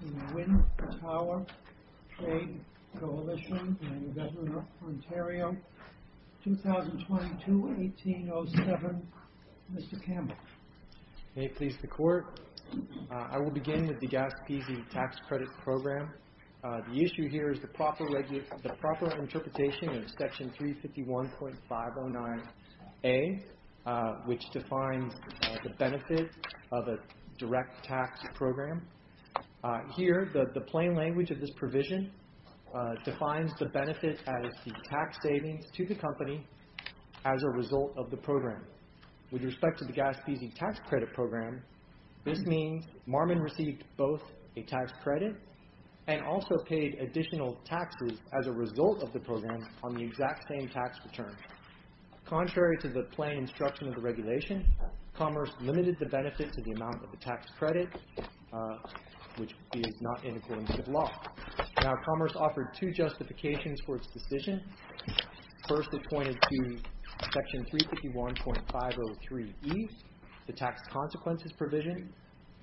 and the Wind Tower Trade Coalition and the Government of Ontario, 2022-1807. Mr. Campbell. May it please the Court. I will begin with the Gaspisi tax credit program. The issue here is the proper interpretation of Section 351.509A, which defines the benefit of a direct tax program. Here, the plain language of this provision defines the benefit as the tax savings to the company as a result of the program. With respect to the Gaspisi tax credit program, Marmon received both a tax credit and also paid additional taxes as a result of the program on the exact same tax return. Contrary to the plain instruction of the regulation, Commerce limited the benefit to the amount of the tax credit, which is not in accordance with law. Now Commerce offered two justifications for its decision. First, it pointed to Section 351.503E, the tax consequences provision,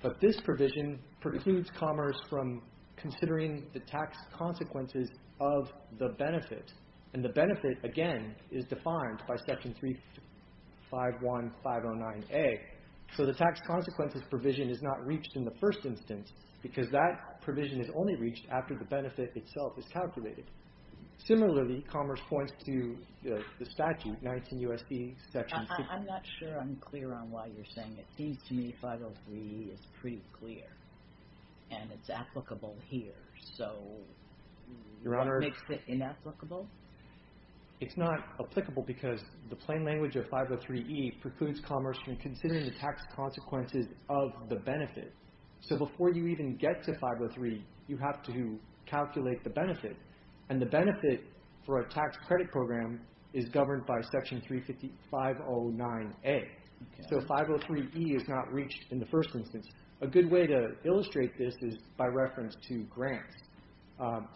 but this provision precludes Commerce from considering the tax consequences of the benefit. And the benefit, again, is defined by Section 351.509A. So the tax consequences provision is not reached in the first instance because that provision is only reached after the benefit itself is calculated. Similarly, Commerce points to the statute, 19 U.S. I'm not sure I'm clear on why you're saying it. It seems to me 503E is pretty clear and it's applicable here. So what makes it inapplicable? It's not applicable because the plain language of 503E precludes Commerce from considering the tax consequences of the benefit. So before you even get to 503, you have to calculate the benefit. And the benefit for a tax credit program is Section 351.509A. So 503E is not reached in the first instance. A good way to illustrate this is by reference to grants.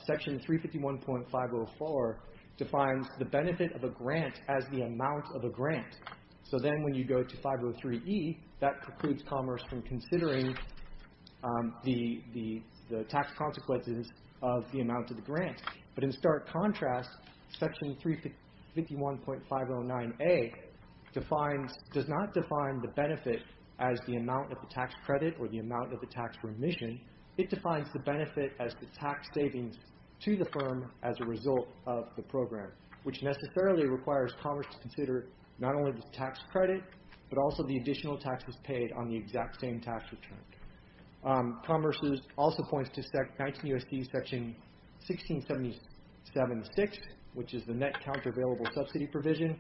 Section 351.504 defines the benefit of a grant as the amount of a grant. So then when you go to 503E, that precludes Commerce from considering the tax consequences of the amount of the grant. But in stark contrast, Section 351.509A does not define the benefit as the amount of the tax credit or the amount of the tax remission. It defines the benefit as the tax savings to the firm as a result of the program, which necessarily requires Commerce to consider not only the tax credit, but also the additional taxes paid on the exact same tax return. Commerce also points to 19 U.S.C. Section 1677.6, which is the net countervailable subsidy provision.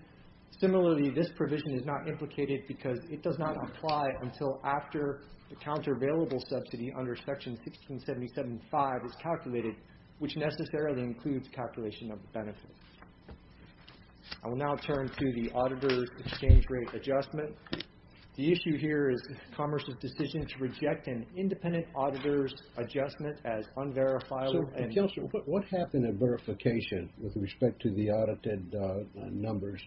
Similarly, this provision is not implicated because it does not apply until after the countervailable subsidy under Section 1677.5 is calculated, which necessarily includes calculation of the benefit. I will now turn to the auditor's exchange rate adjustment. The issue here is Commerce's decision to reject an independent auditor's adjustment as unverifiable. So, Kelsey, what happened in verification with respect to the audited numbers?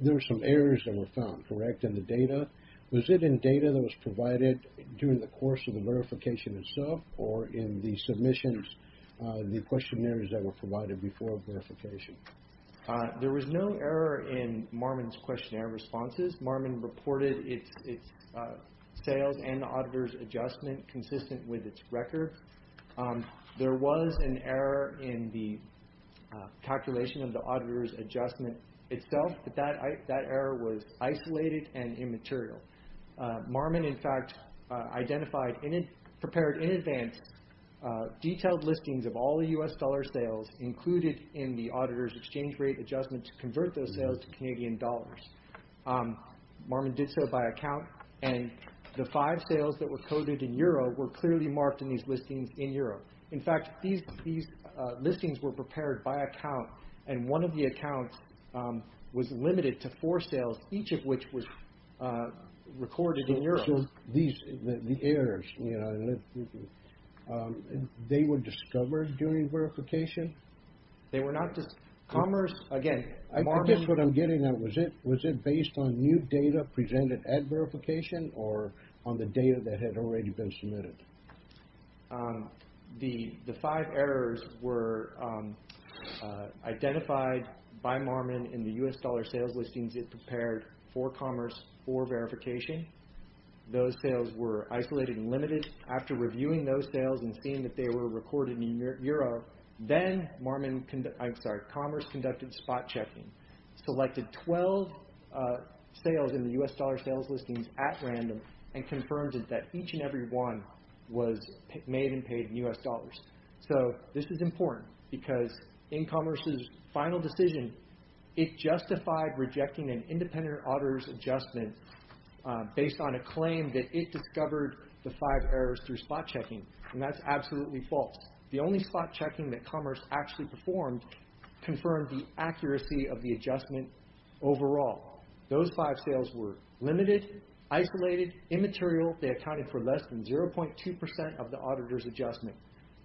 There were some errors that were found, correct, in the data? Was it in data that was provided during the course of the verification itself or in the submissions, the questionnaires that were provided before verification? There was no error in Marmon's questionnaire responses. Marmon reported its sales and the auditor's adjustment consistent with its record. There was an error in the calculation of the auditor's adjustment itself, but that error was isolated and immaterial. Marmon, in fact, identified and prepared in advance detailed listings of all the U.S. dollar sales included in the auditor's exchange rate adjustment to convert those sales to Canadian dollars. Marmon did so by account, and the five sales that were coded in euro were clearly marked in these listings in euro. In fact, these listings were prepared by account, and one of the accounts was limited to four sales, each of which was recorded in euro. So, the errors, they were discovered during verification? They were not discovered. Commerce, again, Marmon... I guess what I'm getting at, was it based on new data presented at verification or on the data that had already been submitted? The five errors were identified by Marmon in the U.S. dollar sales listings it prepared for Commerce for verification. Those sales were isolated and limited. After reviewing those sales and seeing that they were recorded in euro, then Commerce conducted spot checking, selected 12 sales in the U.S. dollar sales listings at random, and confirmed that each and every one was made and paid in U.S. dollars. So, this is important because in Commerce's auditor's adjustment, based on a claim that it discovered the five errors through spot checking, and that's absolutely false. The only spot checking that Commerce actually performed confirmed the accuracy of the adjustment overall. Those five sales were limited, isolated, immaterial. They accounted for less than 0.2% of the auditor's adjustment.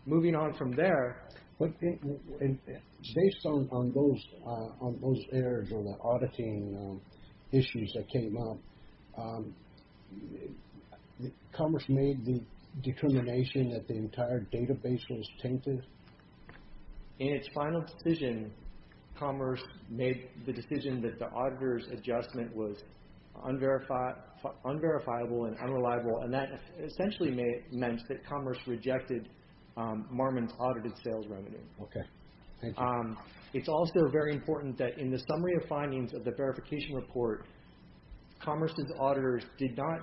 Moving on from there... Based on those errors or the auditing issues that came up, Commerce made the determination that the entire database was tainted? In its final decision, Commerce made the decision that the auditor's adjustment was unverifiable and unreliable, and that essentially meant that Commerce rejected Marmon's audited sales revenue. It's also very important that in the summary of findings of the verification report, Commerce's auditors did not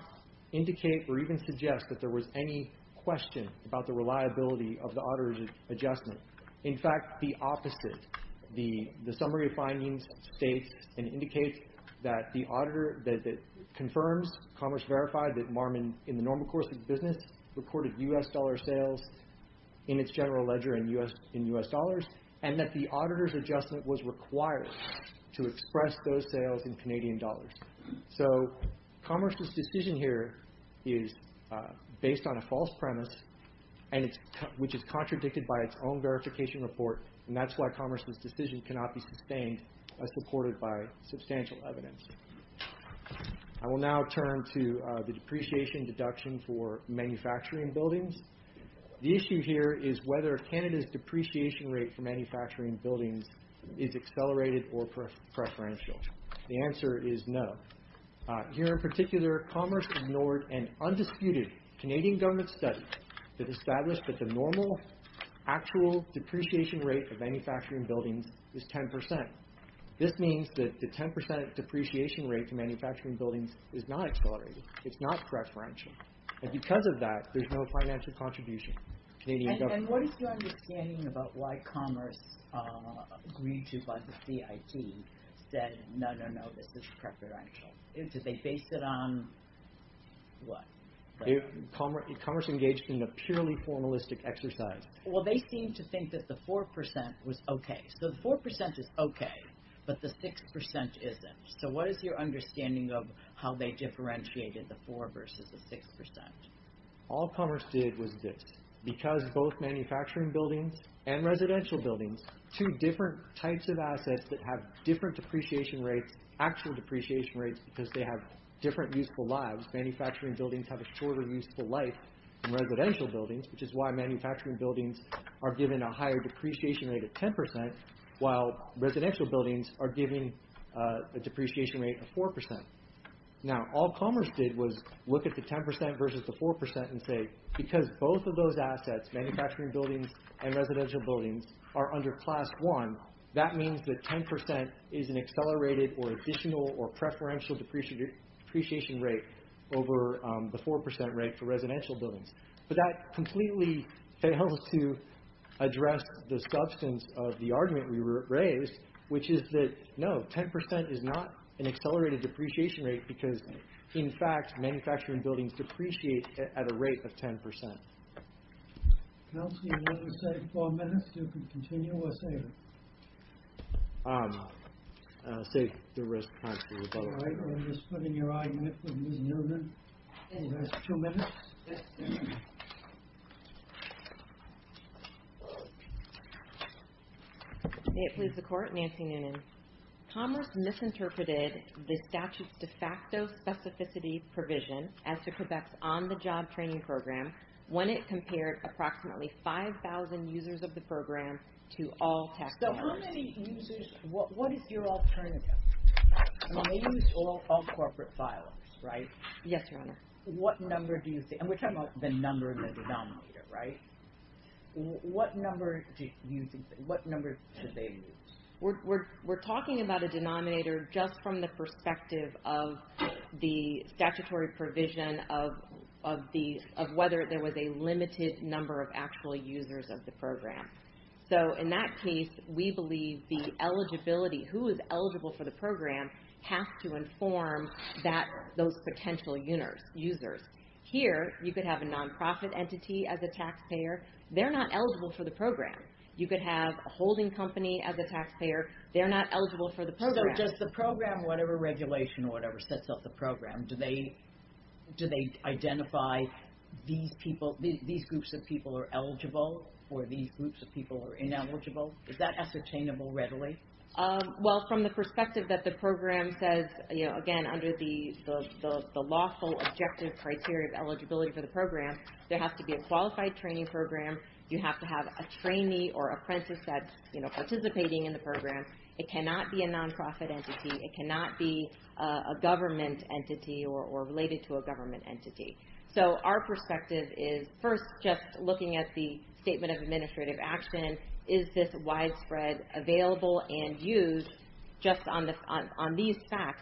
indicate or even suggest that there was any question about the reliability of the auditor's adjustment. In fact, the opposite. The summary of findings states and indicates that the auditor that confirms Commerce verified that Marmon, in the normal course of business, recorded U.S. dollar sales in its general ledger in U.S. dollars, and that the auditor's adjustment was required to express those sales in Canadian dollars. Commerce's decision here is based on a false premise, which is contradicted by its own verification report, and that's why Commerce's decision cannot be sustained as reported by Manufacturing Buildings. The issue here is whether Canada's depreciation rate for Manufacturing Buildings is accelerated or preferential. The answer is no. Here in particular, Commerce ignored an undisputed Canadian government study that established that the normal actual depreciation rate of Manufacturing Buildings is 10%. This means that the 10% depreciation rate for Manufacturing Buildings is not accelerated. It's not preferential, and because of that, there's no financial contribution. And what is your understanding about why Commerce, agreed to by the CIT, said no, no, no, this is preferential? Did they base it on what? Commerce engaged in a purely formalistic exercise. Well, they seem to think that the 4% was okay. So the 4% is okay, but the 6% isn't. So what is your understanding of how they differentiated the 4% versus the 6%? All Commerce did was this. Because both Manufacturing Buildings and Residential Buildings, two different types of assets that have different depreciation rates, actual depreciation rates, because they have different useful lives. Manufacturing Buildings have a shorter useful life than Residential Buildings, which is why Manufacturing Buildings are given a higher depreciation rate of 10%, while Residential Buildings are given a depreciation rate of 4%. Now, all Commerce did was look at the 10% versus the 4% and say, because both of those assets, Manufacturing Buildings and Residential Buildings, are under Class 1, that means that 10% is an accelerated or additional or preferential depreciation rate over the 4% rate for Residential Buildings. But that completely failed to address the substance of the argument we raised, which is that no, 10% is not an accelerated depreciation rate, because in fact, Manufacturing Buildings depreciate at a rate of 10%. Kelsey, you only have four minutes. You can continue or save it. Save the rest of the time for the rebuttal. All right, I'm just putting your argument for Ms. Newman in the last two minutes. May it please the Court, Nancy Newman. Commerce misinterpreted the statute's de facto specificity provision as to Quebec's on-the-job training program when it compared approximately 5,000 users of the program to all tax dollars. So how many users, what is your alternative? I mean, they use all corporate filings, right? Yes, Your Honor. What number do you see? And we're talking about the number in the denominator, right? What number do you think, what number should they use? We're talking about a denominator just from the perspective of the statutory provision of whether there was a limited number of actual users of the program. So in that case, we believe the eligibility, who is eligible for the program, has to inform those potential users. Here, you could have a non-profit entity as a taxpayer. They're not eligible for the program. You could have a holding company as a taxpayer. They're not eligible for the program. So does the program, whatever regulation or whatever sets up the program, do they identify these people, these groups of people are eligible or these groups of people are ineligible? Is that ascertainable readily? Well, from the perspective that the program says, again, under the lawful objective criteria of eligibility for the program, there has to be a qualified training program. You have to have a trainee or apprentice that's participating in the program. It cannot be a non-profit entity. It cannot be a government entity or related to a government entity. So our perspective is, first, just looking at the facts,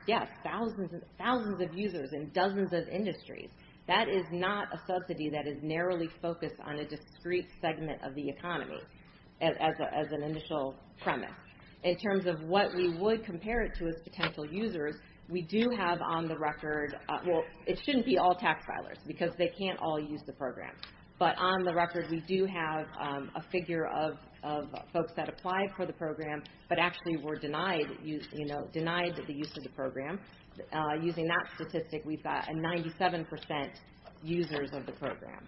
yes, thousands of users in dozens of industries. That is not a subsidy that is narrowly focused on a discrete segment of the economy as an initial premise. In terms of what we would compare it to as potential users, we do have on the record, well, it shouldn't be all tax filers because they can't all use the program. But on the record, we do have a figure of folks that program. Using that statistic, we've got a 97% users of the program.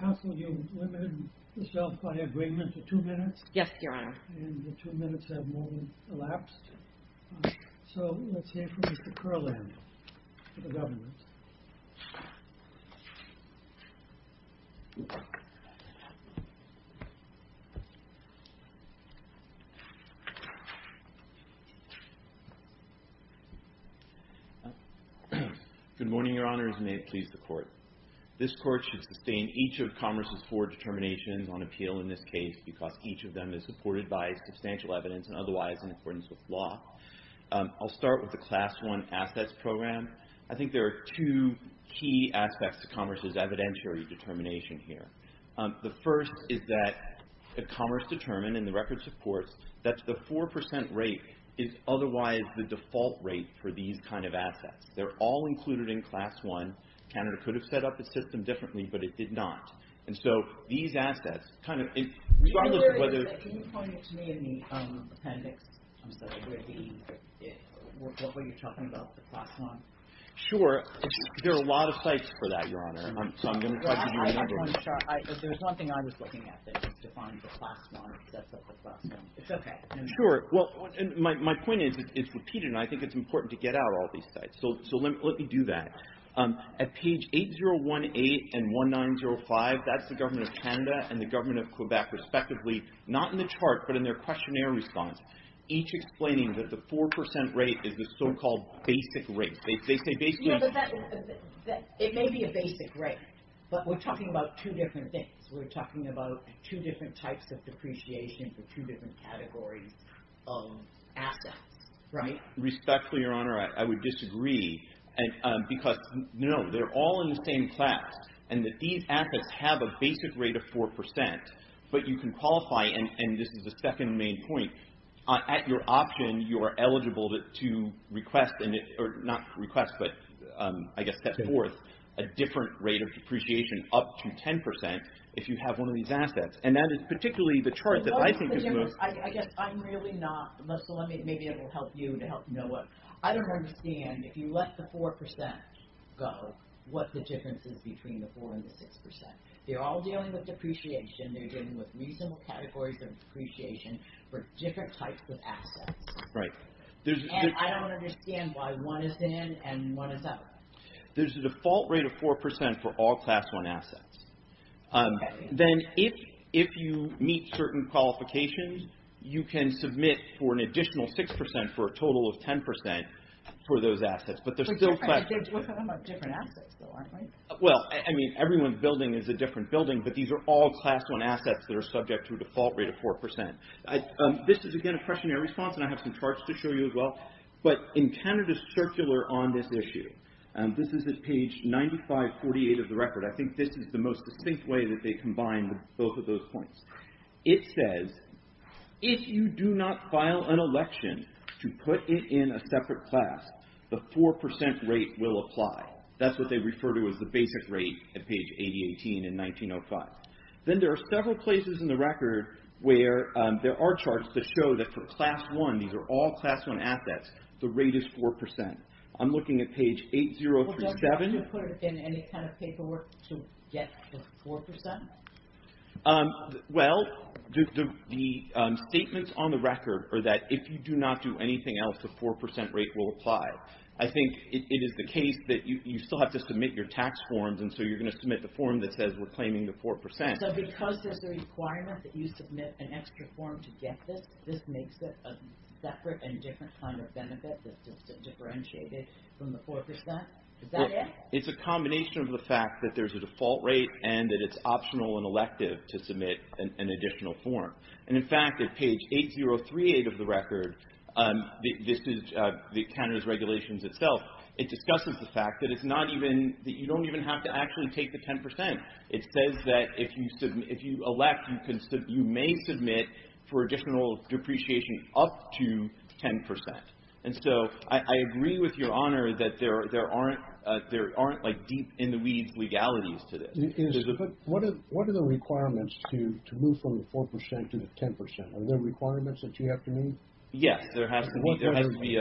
Counsel, you limited yourself by agreement to two minutes? Yes, Your Honor. And the two minutes have more than elapsed. So let's hear from Mr. Kurland for the government. Good morning, Your Honors, and may it please the Court. This Court should sustain each of Commerce's four determinations on appeal in this case because each of them is supported by substantial evidence and otherwise in accordance with law. I'll start with the Class I Assets Program. I think there are two key aspects to Commerce's evidentiary determination here. The first is that Commerce determined in the records of course that the 4% rate is otherwise the default rate for these kind of assets. They're all included in Class I. Canada could have set up the system differently, but it did not. And so these assets kind of regardless of whether... Can you point it to me in the appendix? What were you talking about, the Class I? Sure. There are a lot of sites for that, Your Honor. There's one thing I was looking at that defines the Class I. It's okay. Sure. Well, my point is it's repeated, and I think it's important to get out all these sites. So let me do that. At page 8018 and 1905, that's the Government of Canada and the Government of Quebec respectively, not in the chart, but in their questionnaire response, each explaining that the 4% rate is the so-called basic rate. They say basic... It may be a basic rate, but we're talking about two different things. We're talking about two different types of depreciation for two different categories of assets, right? Respectfully, Your Honor, I would disagree because no, they're all in the same class, and that these assets have a basic rate of 4%, but you can qualify, and this is the second main point, at your option, you are eligible to request, or not request, but I guess step forth, a different rate of depreciation up to 10% if you have one of these assets, and that is particularly the chart that I think is most... I guess I'm really not, so maybe it will help you to help Noah. I don't understand, if you let the 4% go, what the difference is between the 4% and the 6%. They're all dealing with depreciation. They're dealing with reasonable categories of depreciation for different types of assets, and I don't understand why one is in and one is out. There's a default rate of 4% for all Class 1 assets. Then, if you meet certain qualifications, you can submit for an additional 6% for a total of 10% for those assets, but there's still... But they're different assets, though, aren't they? Well, I mean, everyone's building is a different building, but these are all Class 1 assets that are subject to a default rate of 4%. This is, again, a questionnaire response, and I have some charts to show you as well, but in Canada's Circular on this issue, this is at page 9548 of the record. I think this is the most distinct way that they combine both of those points. It says, if you do not file an election to put it in a separate class, the 4% rate will apply. That's what they refer to as the basic rate at page 8018 in 1905. Then, there are several places in the record where there are charts that show that for Class 1, these are all Class 1 assets, the rate is 4%. I'm looking at page 8037. Well, don't you have to put it in any kind of paperwork to get the 4%? Well, the statements on the record are that, if you do not do anything else, the 4% rate will apply. I think it is the case that you still have to submit your tax forms, and so you're going to the 4%. So, because there's a requirement that you submit an extra form to get this, this makes it a separate and different kind of benefit that's just differentiated from the 4%? It's a combination of the fact that there's a default rate and that it's optional and elective to submit an additional form. In fact, at page 8038 of the record, Canada's regulations itself, it discusses the fact that you don't even have to actually take the 10%. It says that if you elect, you may submit for additional depreciation up to 10%. And so, I agree with your honor that there aren't deep in the weeds legalities to this. What are the requirements to move from the 4% to the 10%? Are there requirements that you have to meet? Yes, there has to be.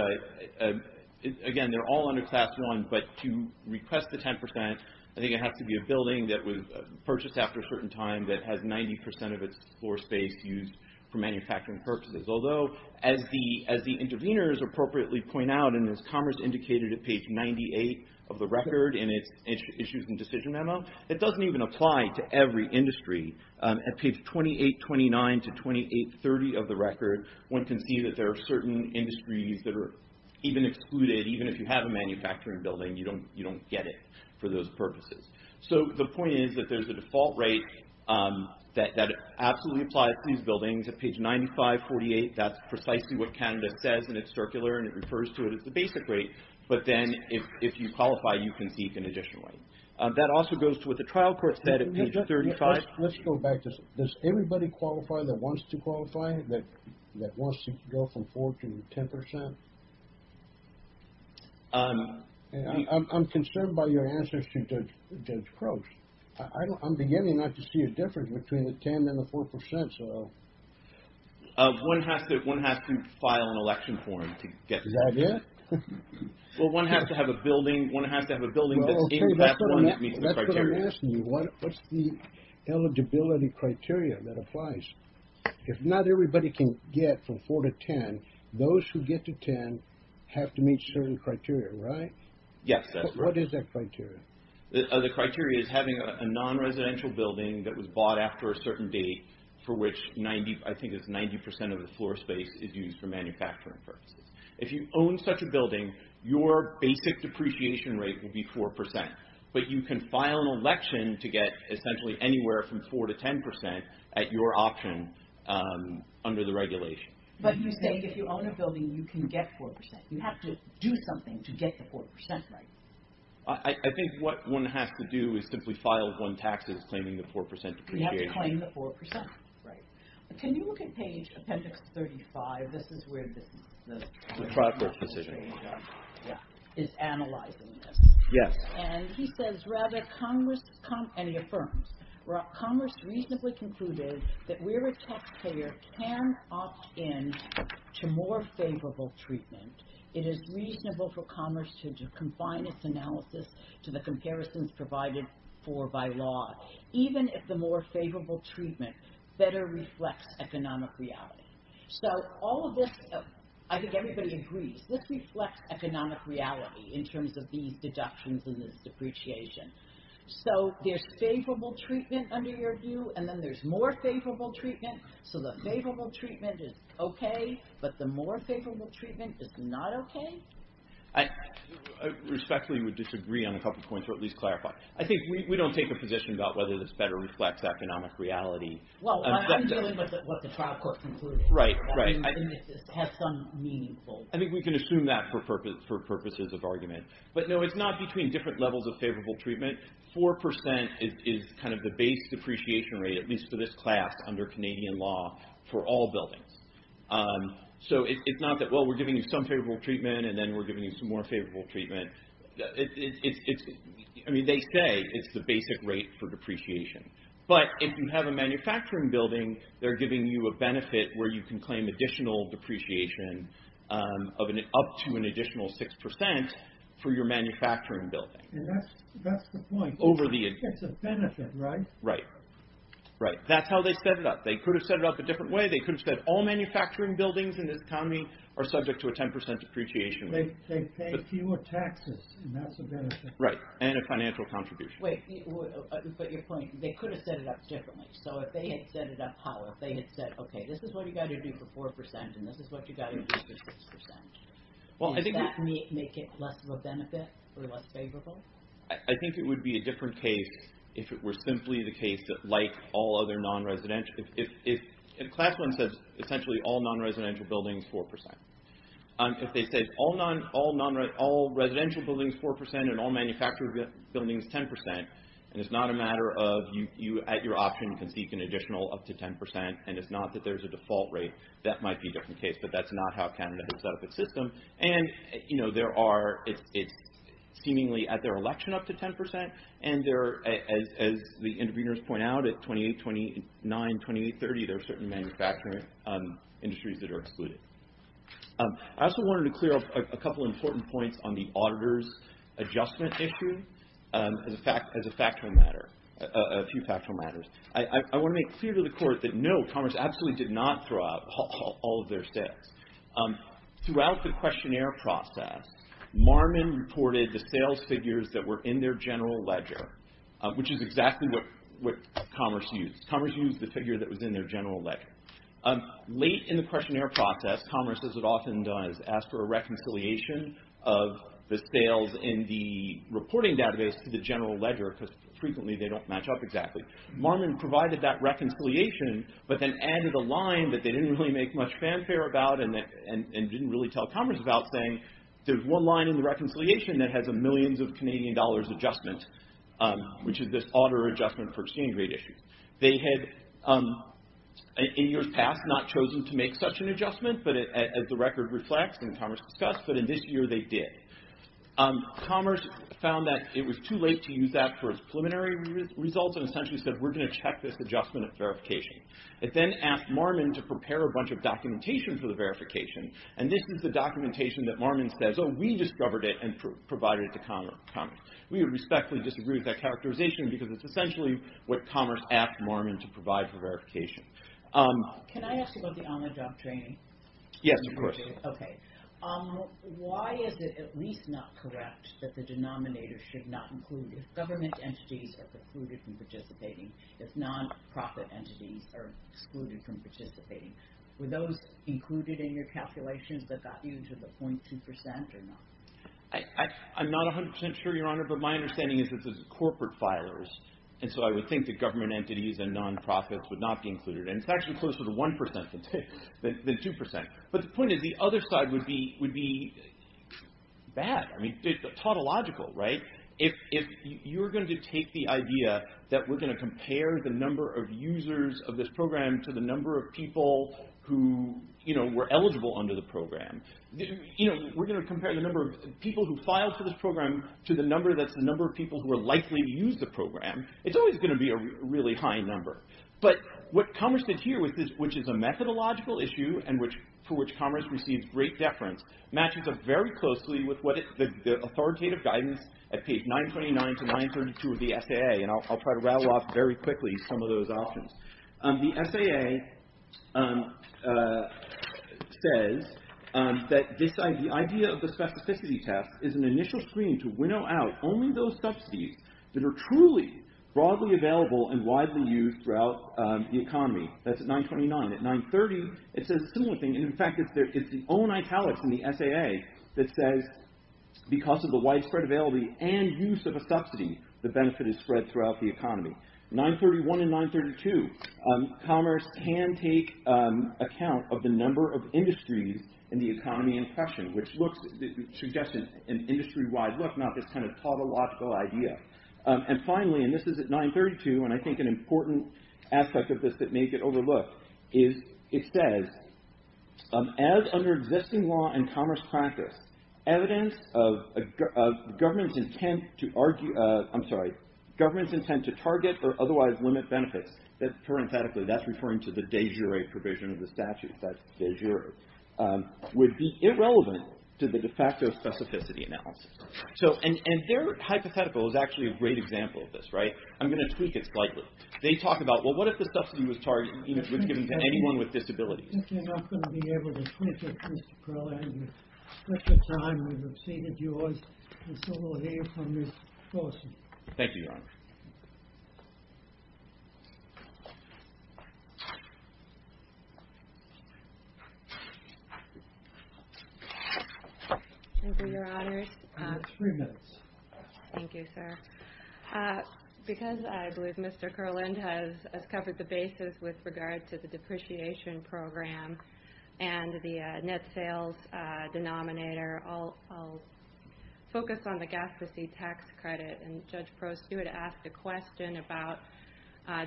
Again, they're all under Class 1, but to request the 10%, I think it has to be a building that was purchased after a certain time that has 90% of its floor space used for manufacturing purchases. Although, as the interveners appropriately point out, and as Commerce indicated at page 98 of the record in its issues and decision memo, it doesn't even apply to every industry. At page 2829 to 2830 of the record, one can see that there are certain industries that are even excluded, even if you a manufacturing building, you don't get it for those purposes. So, the point is that there's a default rate that absolutely applies to these buildings. At page 9548, that's precisely what Canada says, and it's circular, and it refers to it as the basic rate. But then, if you qualify, you can seek an additional rate. That also goes to what the trial court said at page 35. Let's go back. Does everybody qualify that wants to qualify, that wants to go from 4% to 10%? I'm concerned by your answers to Judge Croak. I'm beginning not to see a difference between the 10% and the 4%, so... One has to file an election form to get... Is that it? Well, one has to have a building, one has to have a building that's in that one that meets the criteria. That's what I'm asking you. What's the eligibility criteria that applies? If not everybody can get from 4% to 10%, those who get to 10% have to meet certain criteria, right? Yes, that's right. What is that criteria? The criteria is having a non-residential building that was bought after a certain date, for which I think it's 90% of the floor space is used for manufacturing purposes. If you own such a building, your basic depreciation rate will be 4%, but you can file an election to get essentially anywhere from 4% to 10% at your option under the regulation. But you say if you own a building, you can get 4%. You have to do something to get the 4%, right? I think what one has to do is simply file one taxes claiming the 4% depreciation. You have to claim the 4%, right. Can you look at page appendix 35? This is where this is... The product decision. Yeah, is analyzing this. Yes. And he says, rather, and he affirms, commerce reasonably concluded that where a taxpayer can opt in to more favorable treatment, it is reasonable for commerce to confine its analysis to the comparisons provided for by law, even if the more favorable treatment better reflects economic reality. So all of this, I think everybody agrees, this reflects economic reality in terms of these depreciation. So there's favorable treatment under your view, and then there's more favorable treatment. So the favorable treatment is okay, but the more favorable treatment is not okay? I respectfully would disagree on a couple of points, or at least clarify. I think we don't take a position about whether this better reflects economic reality. Well, I'm dealing with what the trial court concluded. Right, right. I think it has some meaningful... I think we can assume that for purposes of argument. But no, it's not between different levels of favorable treatment. 4% is kind of the base depreciation rate, at least for this class under Canadian law, for all buildings. So it's not that, well, we're giving you some favorable treatment, and then we're giving you some more favorable treatment. I mean, they say it's the basic rate for depreciation. But if you have a manufacturing building, they're giving you a benefit where you can claim additional depreciation up to an additional 6% for your manufacturing building. And that's the point. Over the... It's a benefit, right? Right, right. That's how they set it up. They could have set it up a different way. They could have said all manufacturing buildings in this economy are subject to a 10% depreciation rate. They pay fewer taxes, and that's a benefit. Right, and a financial contribution. Wait, but your point, they could have set it up differently. So if they had set it up how? If they had said, okay, this is what you got to do for 4%, and this is what you got to do for 6%. Well, I think... Does that make it less of a benefit or less favorable? I think it would be a different case if it were simply the case that, like all other non-residential... If Class 1 says, essentially, all non-residential buildings 4%. If they say, all residential buildings 4%, and all manufactured buildings 10%, and it's not a matter of you, at your option, you can seek an additional up to 10%, and it's not that there's a default rate, that might be a different case, but that's not how Canada has set up its system. And there are, it's seemingly at their election up to 10%, and as the interveners point out, at 28, 29, 28, 30, there are certain manufacturing industries that are excluded. I also wanted to clear up a couple of important points on the auditor's adjustment issue, as a factual matter, a few factual matters. I want to make clear to the Court that, no, Commerce absolutely did not throw out all of their sales. Throughout the questionnaire process, Marmon reported the sales figures that were in their general ledger, which is exactly what Commerce used. Commerce used the figure that was in their general ledger. Late in the questionnaire process, Commerce, as it often does, asked for a reconciliation of the sales in the reporting database to the general ledger, because frequently they don't exactly. Marmon provided that reconciliation, but then added a line that they didn't really make much fanfare about, and didn't really tell Commerce about, saying, there's one line in the reconciliation that has a millions of Canadian dollars adjustment, which is this auditor adjustment for exchange rate issues. They had, in years past, not chosen to make such an adjustment, but as the record reflects, and Commerce discussed, but in this year they did. Commerce found that it was too late to use that for its preliminary results, and essentially said, we're going to check this adjustment at verification. It then asked Marmon to prepare a bunch of documentation for the verification, and this is the documentation that Marmon says, oh, we discovered it and provided it to Commerce. We would respectfully disagree with that characterization, because it's essentially what Commerce asked Marmon to provide for verification. Can I ask about the on-the-job training? Yes, of course. Okay. Why is it at least not correct that the denominator should not include if government entities are precluded from participating, if non-profit entities are excluded from participating? Were those included in your calculations that got you to the 0.2% or not? I'm not 100% sure, Your Honor, but my understanding is that this is corporate filers, and so I would think that government entities and non-profits would not be included, and it's actually closer to 1% than 2%. But the point is, the other side would be bad. I mean, tautological, right? If you're going to take the idea that we're going to compare the number of users of this program to the number of people who were eligible under the program, we're going to compare the number of people who filed for this program to the number that's the number of people who are likely to use the program, it's always going to be a really high number. But what Commerce did here, which is a methodological issue and for which Commerce receives great deference, matches up very closely with what the authoritative guidance at page 929 to 932 of the SAA, and I'll try to rattle off very quickly some of those options. The SAA says that the idea of the specificity test is an initial screen to winnow out only those subsidies that are truly broadly available and widely used throughout the economy. That's at 929. At 930, it says a similar thing. In fact, it's the own italics in the SAA that says, because of the widespread availability and use of a subsidy, the benefit is spread throughout the economy. 931 and 932, Commerce can take account of the number of industries in the economy in question, which suggests an industry-wide look, not this kind of plottological idea. And finally, and this is at 932, and I think an important aspect of this that may get overlooked, is it says, as under existing law and Commerce practice, evidence of government's intent to argue, I'm sorry, government's intent to target or otherwise limit benefits, parenthetically, that's referring to the de jure provision of the de facto specificity analysis. So, and their hypothetical is actually a great example of this, right? I'm going to tweak it slightly. They talk about, well, what if the subsidy was given to anyone with disabilities? I think you're not going to be able to tweak it, Mr. Perlin. You've got three minutes. Thank you, sir. Because I believe Mr. Perlin has covered the basis with regard to the depreciation program and the net sales denominator, I'll focus on the gastrocyte tax credit. And Judge Prost, you had asked a question about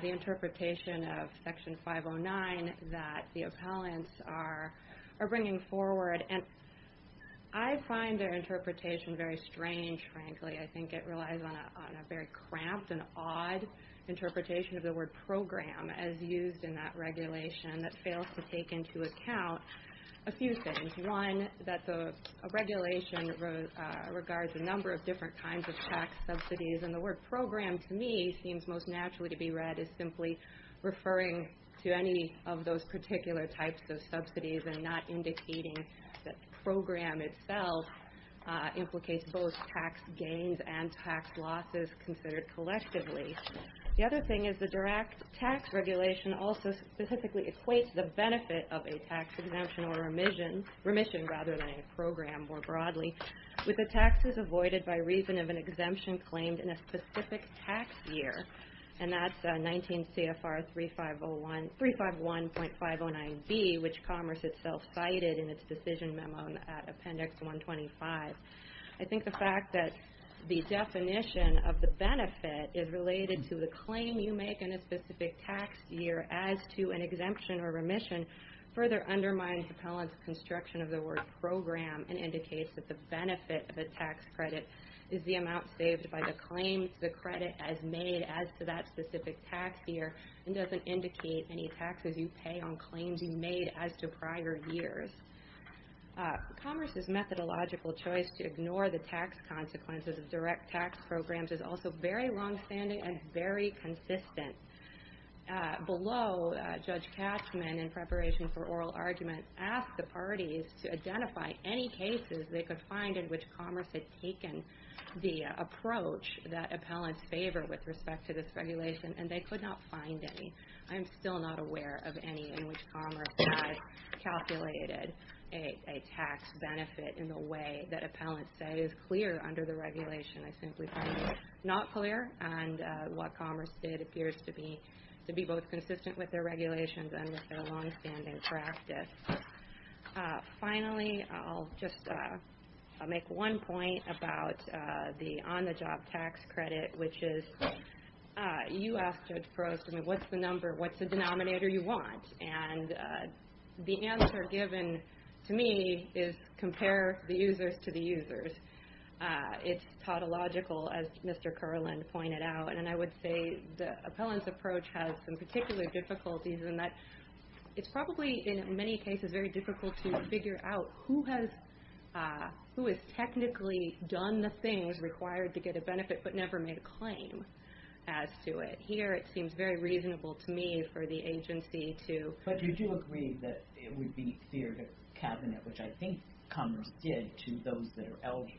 the interpretation of forward. And I find their interpretation very strange, frankly. I think it relies on a very cramped and odd interpretation of the word program as used in that regulation that fails to take into account a few things. One, that the regulation regards a number of different kinds of tax subsidies. And the word program, to me, seems most naturally to be read as simply referring to any of those particular types of subsidies and not indicating that the program itself implicates both tax gains and tax losses considered collectively. The other thing is the direct tax regulation also specifically equates the benefit of a tax exemption or remission, rather than a program more broadly, with the taxes avoided by reason of an exemption claimed in a specific tax year. And that's 19 CFR 351.509B, which Commerce itself cited in its decision memo at Appendix 125. I think the fact that the definition of the benefit is related to the claim you make in a specific tax year as to an exemption or remission further undermines Appellant's construction of the word program and indicates that the benefit of a tax credit is the amount saved by the claims the credit has made as to that specific tax year and doesn't indicate any taxes you pay on claims you made as to prior years. Commerce's methodological choice to ignore the tax consequences of direct tax programs is also very longstanding and very consistent. Below, Judge Cashman, in preparation for oral argument, asked the parties to identify any cases they could find in which Commerce had taken the approach that Appellants favor with respect to this regulation, and they could not find any. I am still not aware of any in which Commerce has calculated a tax benefit in the way that Appellants say is clear under the regulation. I simply find it not clear, and what Commerce did appears to be both consistent with their just make one point about the on-the-job tax credit, which is you asked Judge Frost, what's the number, what's the denominator you want? And the answer given to me is compare the users to the users. It's tautological, as Mr. Kerland pointed out, and I would say the Appellant's approach has some particular difficulties in that it's probably in many cases very difficult to figure out who has technically done the things required to get a benefit but never made a claim as to it. Here, it seems very reasonable to me for the agency to... But you do agree that it would be fair to Cabinet, which I think Commerce did, to those that are eligible.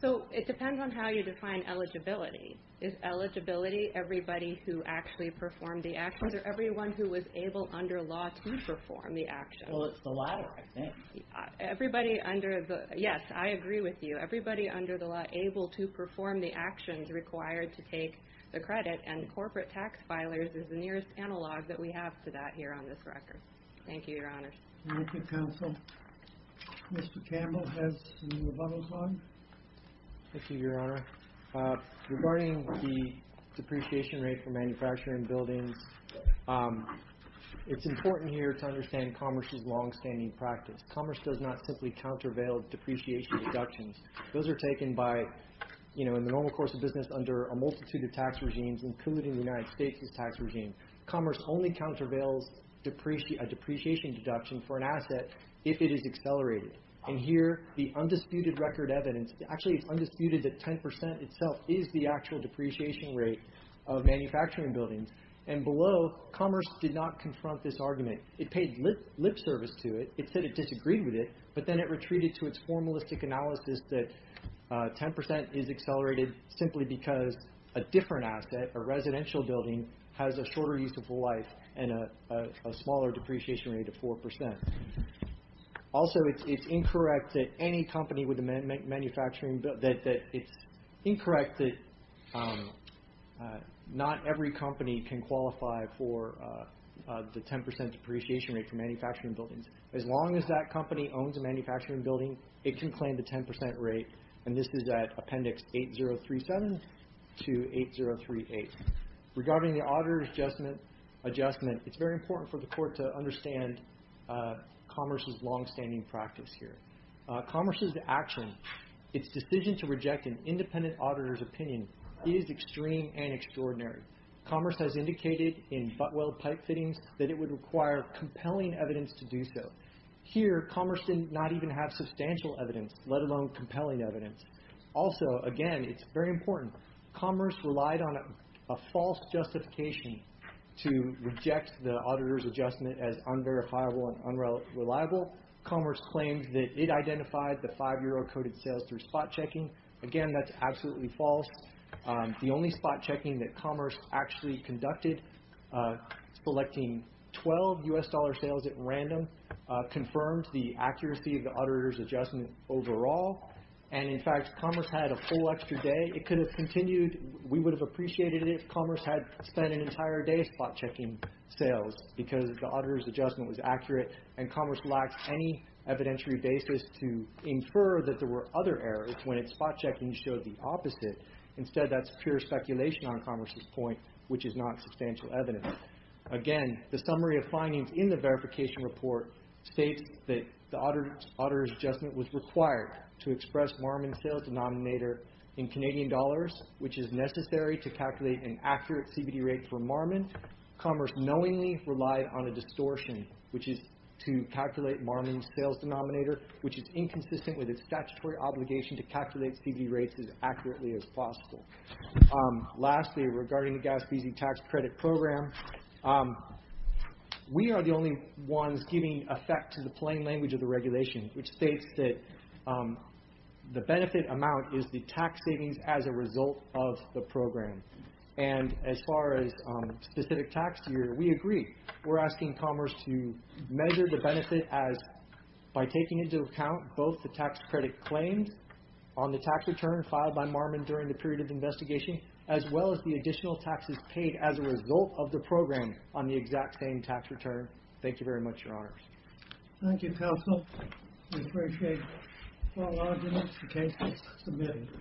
So it depends on how you define eligibility. Is eligibility everybody who actually performed the actions or everyone who was able under law to perform the actions? Well, it's the latter, I think. Yes, I agree with you. Everybody under the law able to perform the actions required to take the credit and corporate tax filers is the nearest analog that we have to that here on this record. Thank you, Your Honor. Thank you, Counsel. Mr. Campbell has the rebuttal time. Thank you, Your Honor. Regarding the depreciation rate for manufacturing buildings, it's important here to understand Commerce's long-standing practice. Commerce does not simply countervail depreciation deductions. Those are taken in the normal course of business under a multitude of tax regimes, including the United States' tax regime. Commerce only countervails a depreciation deduction for an asset if it is accelerated. And here, the undisputed record evidence... Actually, it's undisputed that 10% itself is the actual depreciation rate of manufacturing buildings. And below, Commerce did not confront this argument. It paid lip service to it. It said it disagreed with it, but then it retreated to its formalistic analysis that 10% is accelerated simply because a different asset, a residential building, has a shorter use of life and a smaller depreciation rate of 4%. Also, it's incorrect that any company with a manufacturing... It's incorrect that not every company can qualify for the 10% depreciation rate for manufacturing buildings. As long as that company owns a manufacturing building, it can claim the 10% rate. And this is at Appendix 8037 to 8038. Regarding the auditor's adjustment, it's very important for the court to understand Commerce's longstanding practice here. Commerce's action, its decision to reject an independent auditor's opinion, is extreme and extraordinary. Commerce has indicated in butt-weld pipe fittings that it would require compelling evidence to do so. Here, Commerce did not even have substantial evidence, let alone compelling evidence. Also, again, it's very important. Commerce relied on a false justification to reject the auditor's adjustment as unverifiable and unreliable. Commerce claims that it identified the 5 euro coded sales through spot checking. Again, that's absolutely false. The only spot checking that Commerce actually conducted, selecting 12 US dollar sales at random, confirmed the accuracy of the auditor's adjustment overall. And in fact, Commerce had a full extra day. It could have continued. We would have appreciated it if Commerce had spent an entire day spot checking sales because the auditor's adjustment was accurate and Commerce lacked any evidentiary basis to infer that there were other errors when its spot checking showed the opposite. Instead, that's pure speculation on Commerce's point, which is not substantial evidence. Again, the summary of findings in the verification report states that the auditor's adjustment was required to express Marmon's sales denominator in Canadian dollars, which is necessary to calculate an accurate CVD rate for Marmon. Commerce knowingly relied on a distortion, which is to calculate Marmon's sales denominator, which is inconsistent with its statutory obligation to calculate CVD rates as accurately as possible. Lastly, regarding the GASBZ tax credit program, we are the only ones giving effect to the plain language of the regulation, which states that the benefit amount is the tax savings as a result of the program. And as far as specific tax year, we agree. We're asking Commerce to measure the benefit by taking into account both the tax credit claims on the tax return filed by Marmon during the period of investigation, as well as the additional taxes paid as a result of the program on the exact same tax return. Thank you very much, Your Honors. Thank you, Counsel. We appreciate all arguments and cases submitted.